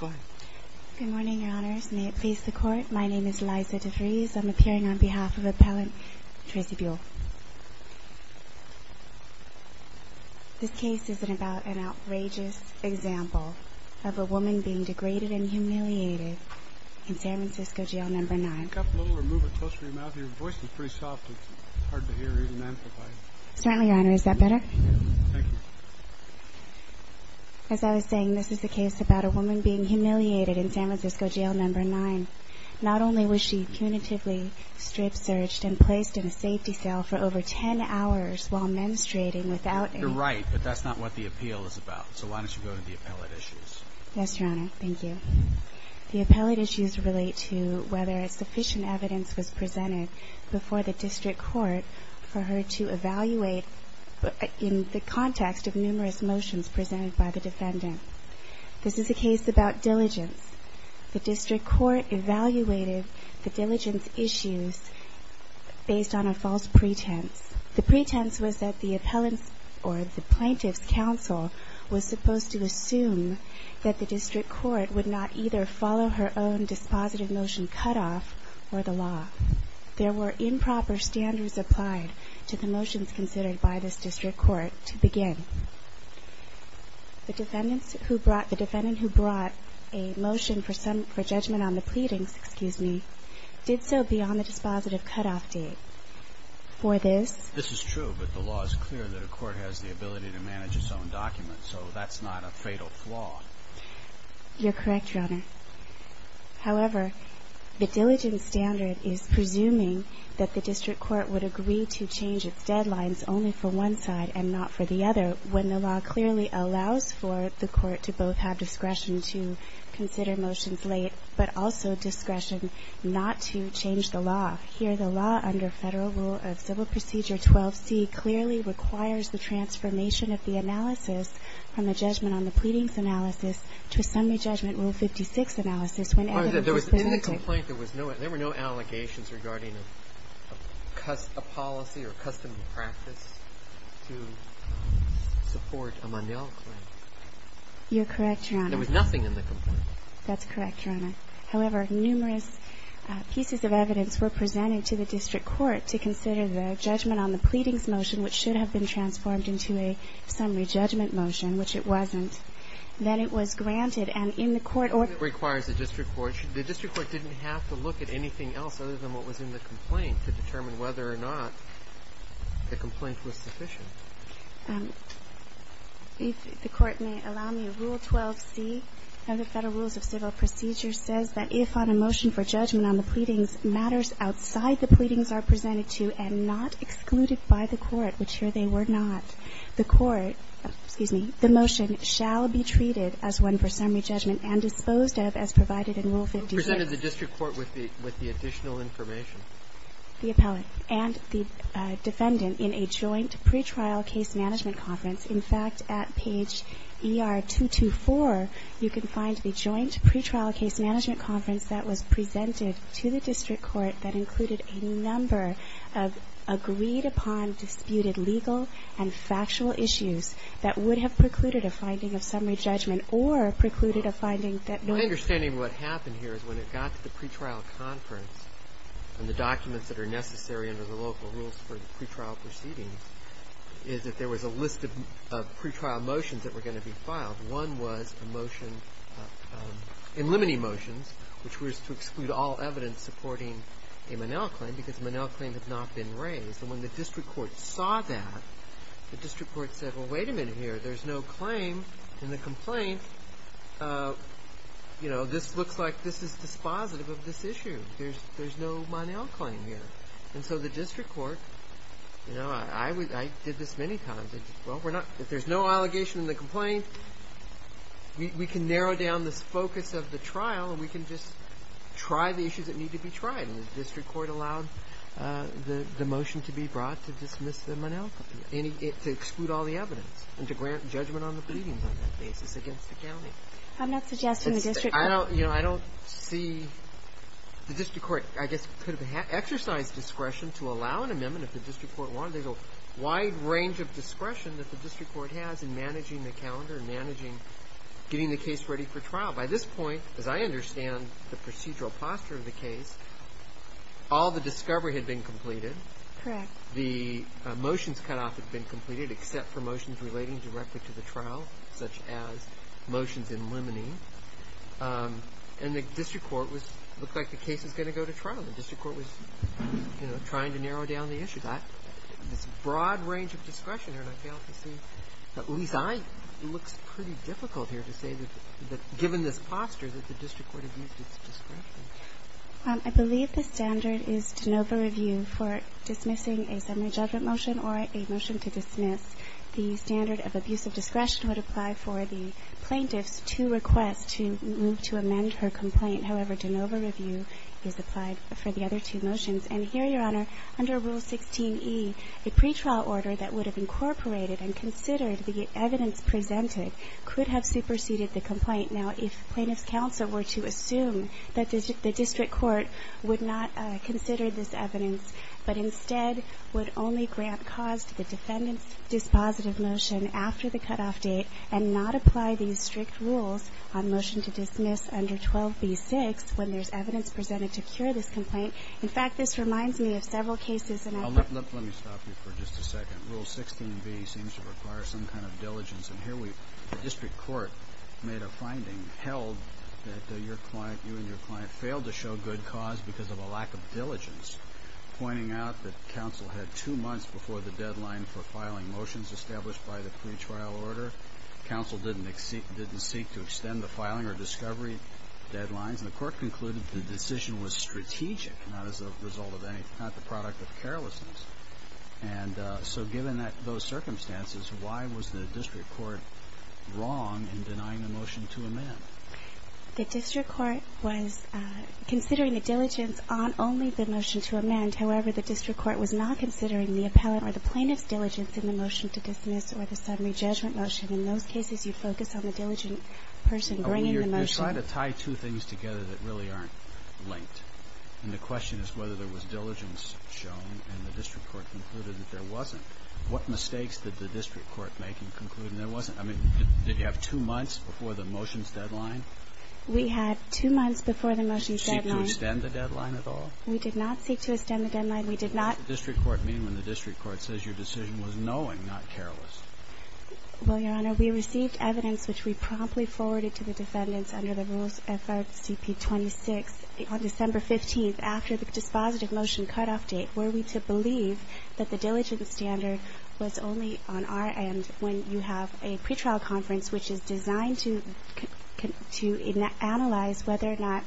Good morning, your honors. May it please the court. My name is Liza DeVries. I'm appearing on behalf of Appellant Tracy Buell. This case is about an outrageous example of a woman being degraded and humiliated in San Francisco Jail No. 9. As I was saying, this is a case about a woman being humiliated in San Francisco Jail No. 9. Not only was she punitively strip searched and placed in a safety cell for over 10 hours while menstruating without any... You're right, but that's not what the appeal is about. So why don't you go to the appellate issues. Yes, your honor. Thank you. The appellate issues relate to whether sufficient evidence was presented before the district court for her to evaluate in the context of numerous motions presented by the defendant. This is a case about diligence. The district court evaluated the diligence issues based on a false pretense. The pretense was that the plaintiff's counsel was supposed to assume that the district court would not either follow her own dispositive motion cutoff or the law. There were improper standards applied to the motions considered by this district court to begin. The defendant who brought a motion for judgment on the pleadings did so beyond the dispositive cutoff date. For this... This is true, but the law is clear that a court has the ability to manage its own documents. So that's not a fatal flaw. You're correct, your honor. However, the diligence standard is presuming that the district court would agree to change its deadlines only for one side and not for the other when the law clearly allows for the court to both have discretion to consider motions late, but also discretion not to change the law. Here, the law under Federal Rule of Civil Procedure 12c clearly requires the transformation of the analysis from a judgment on the pleadings analysis to a summary judgment Rule 56 analysis when evidence is presented. There were no allegations regarding a policy or custom practice to support a Mandel claim. You're correct, your honor. There was nothing in the complaint. That's correct, your honor. However, numerous pieces of evidence were presented to the district court to consider the judgment on the pleadings motion, which should have been transformed into a summary judgment motion, which it wasn't. Then it was granted. And in the court order... It requires the district court. The district court didn't have to look at anything else other than what was in the complaint to determine whether or not the complaint was sufficient. If the Court may allow me, Rule 12c of the Federal Rules of Civil Procedure says that if on a motion for judgment on the pleadings matters outside the pleadings are presented to and not excluded by the court, which here they were not, the court excuse me, the motion shall be treated as one for summary judgment and disposed of as provided in Rule 56. It presented the district court with the additional information. The appellate and the defendant in a joint pretrial case management conference. In fact, at page ER 224, you can find the joint pretrial case management conference that was presented to the district court that included a number of agreed upon, disputed legal and factual issues that would have precluded a finding of summary judgment or precluded a finding that... My understanding of what happened here is when it got to the pretrial conference and the documents that are necessary under the local rules for the pretrial proceedings is that there was a list of pretrial motions that were going to be filed. One was a motion in limiting motions, which was to exclude all evidence supporting a Monell claim because Monell claims have not been raised. And when the district court saw that, the district court said, well, wait a minute here, there's no claim in the complaint. You know, this looks like this is dispositive of this issue. There's no Monell claim here. And so the district court, you know, I did this many times. Well, if there's no allegation in the complaint, we can narrow down this focus of the trial and we can just try the issues that need to be tried. And the district court allowed the motion to be brought to dismiss the Monell claim, to exclude all the evidence and to grant judgment on the pleadings on that basis against the county. I'm not suggesting the district court... I don't, you know, I don't see the district court, I guess, could have exercised discretion to allow an amendment if the district court wanted. There's a wide range of discretion that the district court has in managing the calendar and managing, getting the case ready for trial. By this point, as I understand the procedural posture of the case, all the discovery had been completed. Correct. The motions cutoff had been completed, except for motions relating directly to the trial, such as motions in limine. And the district court was, looked like the case was going to go to trial. The district court was, you know, trying to narrow down the issue. This broad range of discretion, and I fail to see, at least I, it looks pretty difficult here to say that, given this posture, that the district court abused its discretion. I believe the standard is de novo review for dismissing a summary judgment motion or a motion to dismiss. The standard of abusive discretion would apply for the plaintiff's two requests to move to amend her complaint. However, de novo review is applied for the other two motions. And here, Your Honor, under Rule 16e, a pretrial order that would have incorporated and considered the evidence presented could have superseded the complaint. Now, if plaintiff's counsel were to assume that the district court would not consider this evidence, but instead would only grant cause to the defendant's dispositive motion after the cutoff date and not apply these strict rules on motion to dismiss under 12b-6 when there's evidence presented to cure this complaint. In fact, this reminds me of several cases in our group. Roberts. Let me stop you for just a second. Rule 16b seems to require some kind of diligence. And here we, the district court made a finding held that your client, you and your of diligence, pointing out that counsel had two months before the deadline for filing motions established by the pretrial order. Counsel didn't seek to extend the filing or discovery deadlines. And the court concluded the decision was strategic, not as a result of anything, not the product of carelessness. And so given those circumstances, why was the district court wrong in denying the motion to amend? The district court was considering the diligence on only the motion to amend. However, the district court was not considering the appellant or the plaintiff's diligence in the motion to dismiss or the summary judgment motion. In those cases, you focus on the diligent person bringing the motion. You're trying to tie two things together that really aren't linked. And the question is whether there was diligence shown and the district court concluded that there wasn't. What mistakes did the district court make in concluding there wasn't? I mean, did you have two months before the motions deadline? We had two months before the motions deadline. Did you seek to extend the deadline at all? We did not seek to extend the deadline. We did not. What does the district court mean when the district court says your decision was knowing, not careless? Well, Your Honor, we received evidence which we promptly forwarded to the defendants under the rules FRCP 26 on December 15th after the dispositive motion cutoff date were we to believe that the diligence standard was only on our end when you have a pretrial conference which is designed to analyze whether or not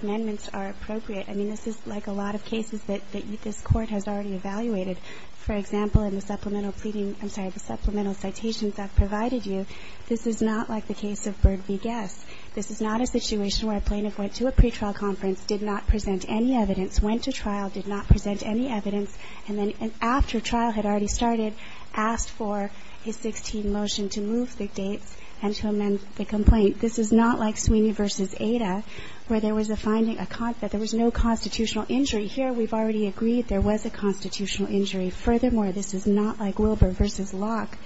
amendments are appropriate. I mean, this is like a lot of cases that this Court has already evaluated. For example, in the supplemental pleading – I'm sorry, the supplemental citations I've provided you, this is not like the case of Byrd v. Guess. This is not a situation where a plaintiff went to a pretrial conference, did not present any evidence, went to trial, did not present any evidence, and then after trial had already started, asked for a 16 motion to move the dates and to amend the complaint. This is not like Sweeney v. Ada where there was a finding that there was no constitutional injury. Here we've already agreed there was a constitutional injury. Furthermore, this is not like Wilbur v. Locke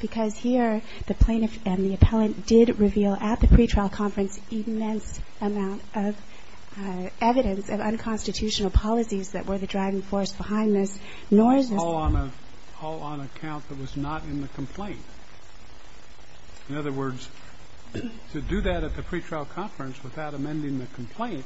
because here the plaintiff and the that were the driving force behind this, nor is this one. It was all on a count that was not in the complaint. In other words, to do that at the pretrial conference without amending the complaint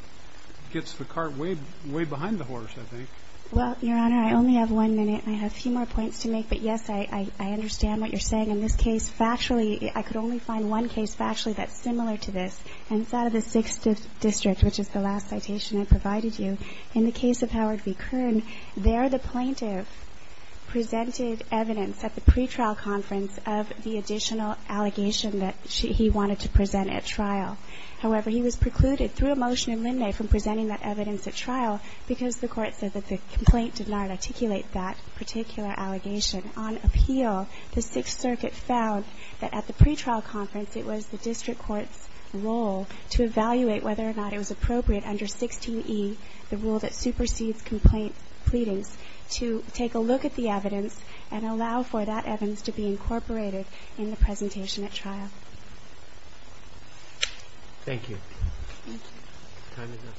gets the cart way behind the horse, I think. Well, Your Honor, I only have one minute. I have a few more points to make. But, yes, I understand what you're saying. In this case, factually, I could only find one case factually that's similar to this. And it's out of the Sixth District, which is the last citation I provided you. In the case of Howard v. Kern, there the plaintiff presented evidence at the pretrial conference of the additional allegation that he wanted to present at trial. However, he was precluded through a motion in Linde from presenting that evidence at trial because the court said that the complaint did not articulate that particular allegation. On appeal, the Sixth Circuit found that at the pretrial conference it was the district court's role to evaluate whether or not it was appropriate under 16E, the rule that supersedes complaint pleadings, to take a look at the evidence and allow for that evidence to be incorporated in the presentation at trial. Thank you. Thank you. Time is up.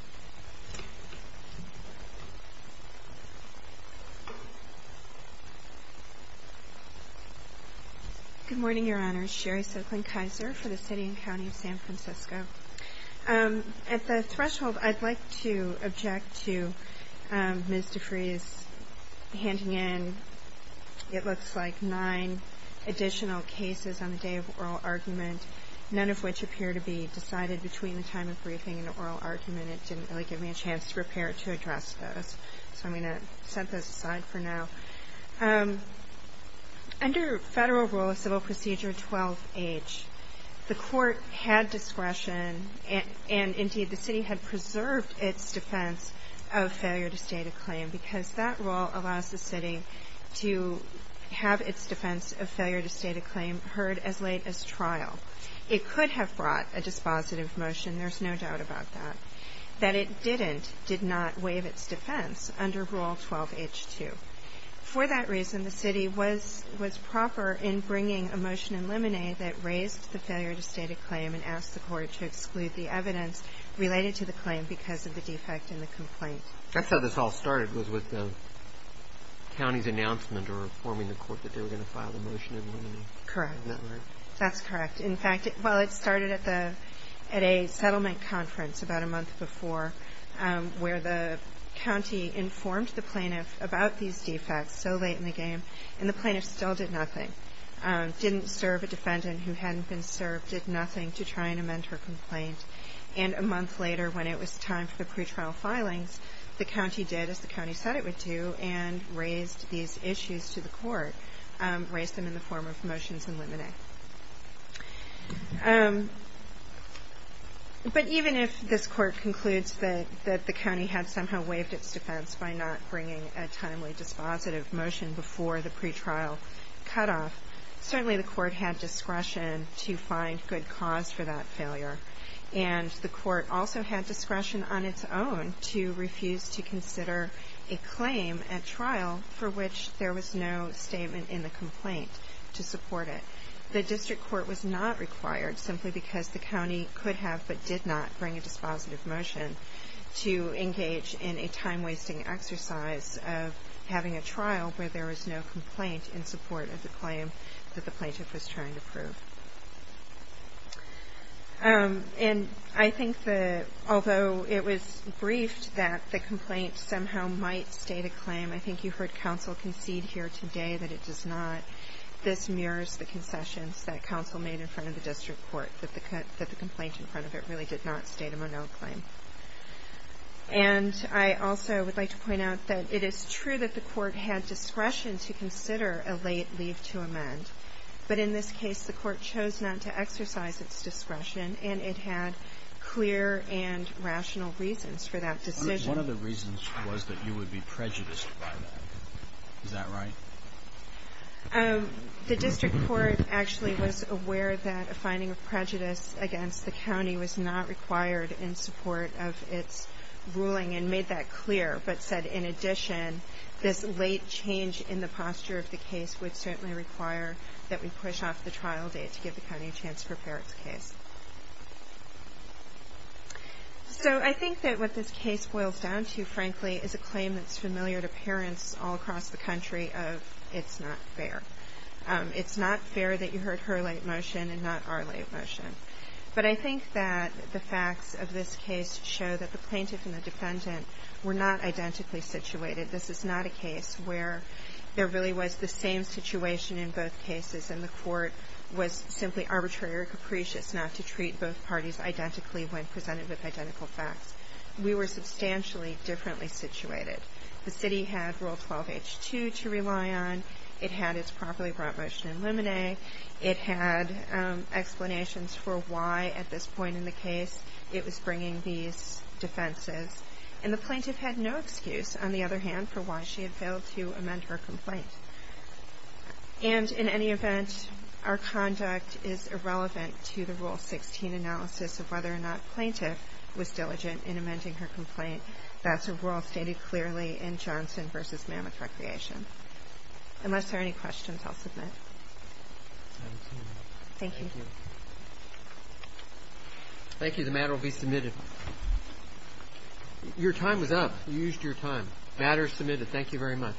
Good morning, Your Honor. I'm Sherry Silkland-Kaiser for the City and County of San Francisco. At the threshold, I'd like to object to Ms. DeFreeze handing in, it looks like, nine additional cases on the day of oral argument, none of which appear to be decided between the time of briefing and the oral argument. It didn't really give me a chance to prepare to address those. So I'm going to set those aside for now. Under Federal Rule of Civil Procedure 12H, the court had discretion and, indeed, the city had preserved its defense of failure to state a claim because that rule allows the city to have its defense of failure to state a claim heard as late as trial. It could have brought a dispositive motion, there's no doubt about that. That it didn't did not waive its defense under Rule 12H2. For that reason, the city was proper in bringing a motion in limine that raised the failure to state a claim and asked the court to exclude the evidence related to the claim because of the defect in the complaint. That's how this all started, was with the county's announcement or informing the court that they were going to file the motion in limine. Correct. Isn't that right? That's correct. In fact, while it started at a settlement conference about a month before where the county informed the plaintiff about these defects so late in the game and the plaintiff still did nothing, didn't serve a defendant who hadn't been served, did nothing to try and amend her complaint. And a month later, when it was time for the pretrial filings, the county did as the county said it would do and raised these issues to the court, raised them in the form of motions in limine. Okay. But even if this court concludes that the county had somehow waived its defense by not bringing a timely dispositive motion before the pretrial cutoff, certainly the court had discretion to find good cause for that failure. And the court also had discretion on its own to refuse to consider a claim at trial for which there was no statement in the complaint to support it. The district court was not required simply because the county could have but did not bring a dispositive motion to engage in a time-wasting exercise of having a trial where there was no complaint in support of the claim that the plaintiff was trying to prove. And I think although it was briefed that the complaint somehow might state a claim, I think you heard counsel concede here today that it does not. This mirrors the concessions that counsel made in front of the district court, that the complaint in front of it really did not state a Monod claim. And I also would like to point out that it is true that the court had discretion to consider a late leave to amend. But in this case, the court chose not to exercise its discretion, and it had clear and rational reasons for that decision. One of the reasons was that you would be prejudiced by that. Is that right? The district court actually was aware that a finding of prejudice against the county was not required in support of its ruling and made that clear, but said in addition this late change in the posture of the case would certainly require that we push off the trial date to give the county a chance to prepare its case. So I think that what this case boils down to, frankly, is a claim that's familiar to parents all across the country of it's not fair. It's not fair that you heard her late motion and not our late motion. But I think that the facts of this case show that the plaintiff and the defendant were not identically situated. This is not a case where there really was the same situation in both cases and the court was simply arbitrary or capricious not to treat both parties identically when presented with identical facts. We were substantially differently situated. The city had Rule 12H2 to rely on. It had its properly brought motion in limine. It had explanations for why at this point in the case it was bringing these defenses. And the plaintiff had no excuse, on the other hand, for why she had failed to amend her complaint. And in any event, our conduct is irrelevant to the Rule 16 analysis of whether or not the plaintiff was diligent in amending her complaint. That's a rule stated clearly in Johnson v. Mammoth Recreation. Unless there are any questions, I'll submit. Thank you. Thank you. The matter will be submitted. Your time is up. You used your time. The matter is submitted. Thank you very much.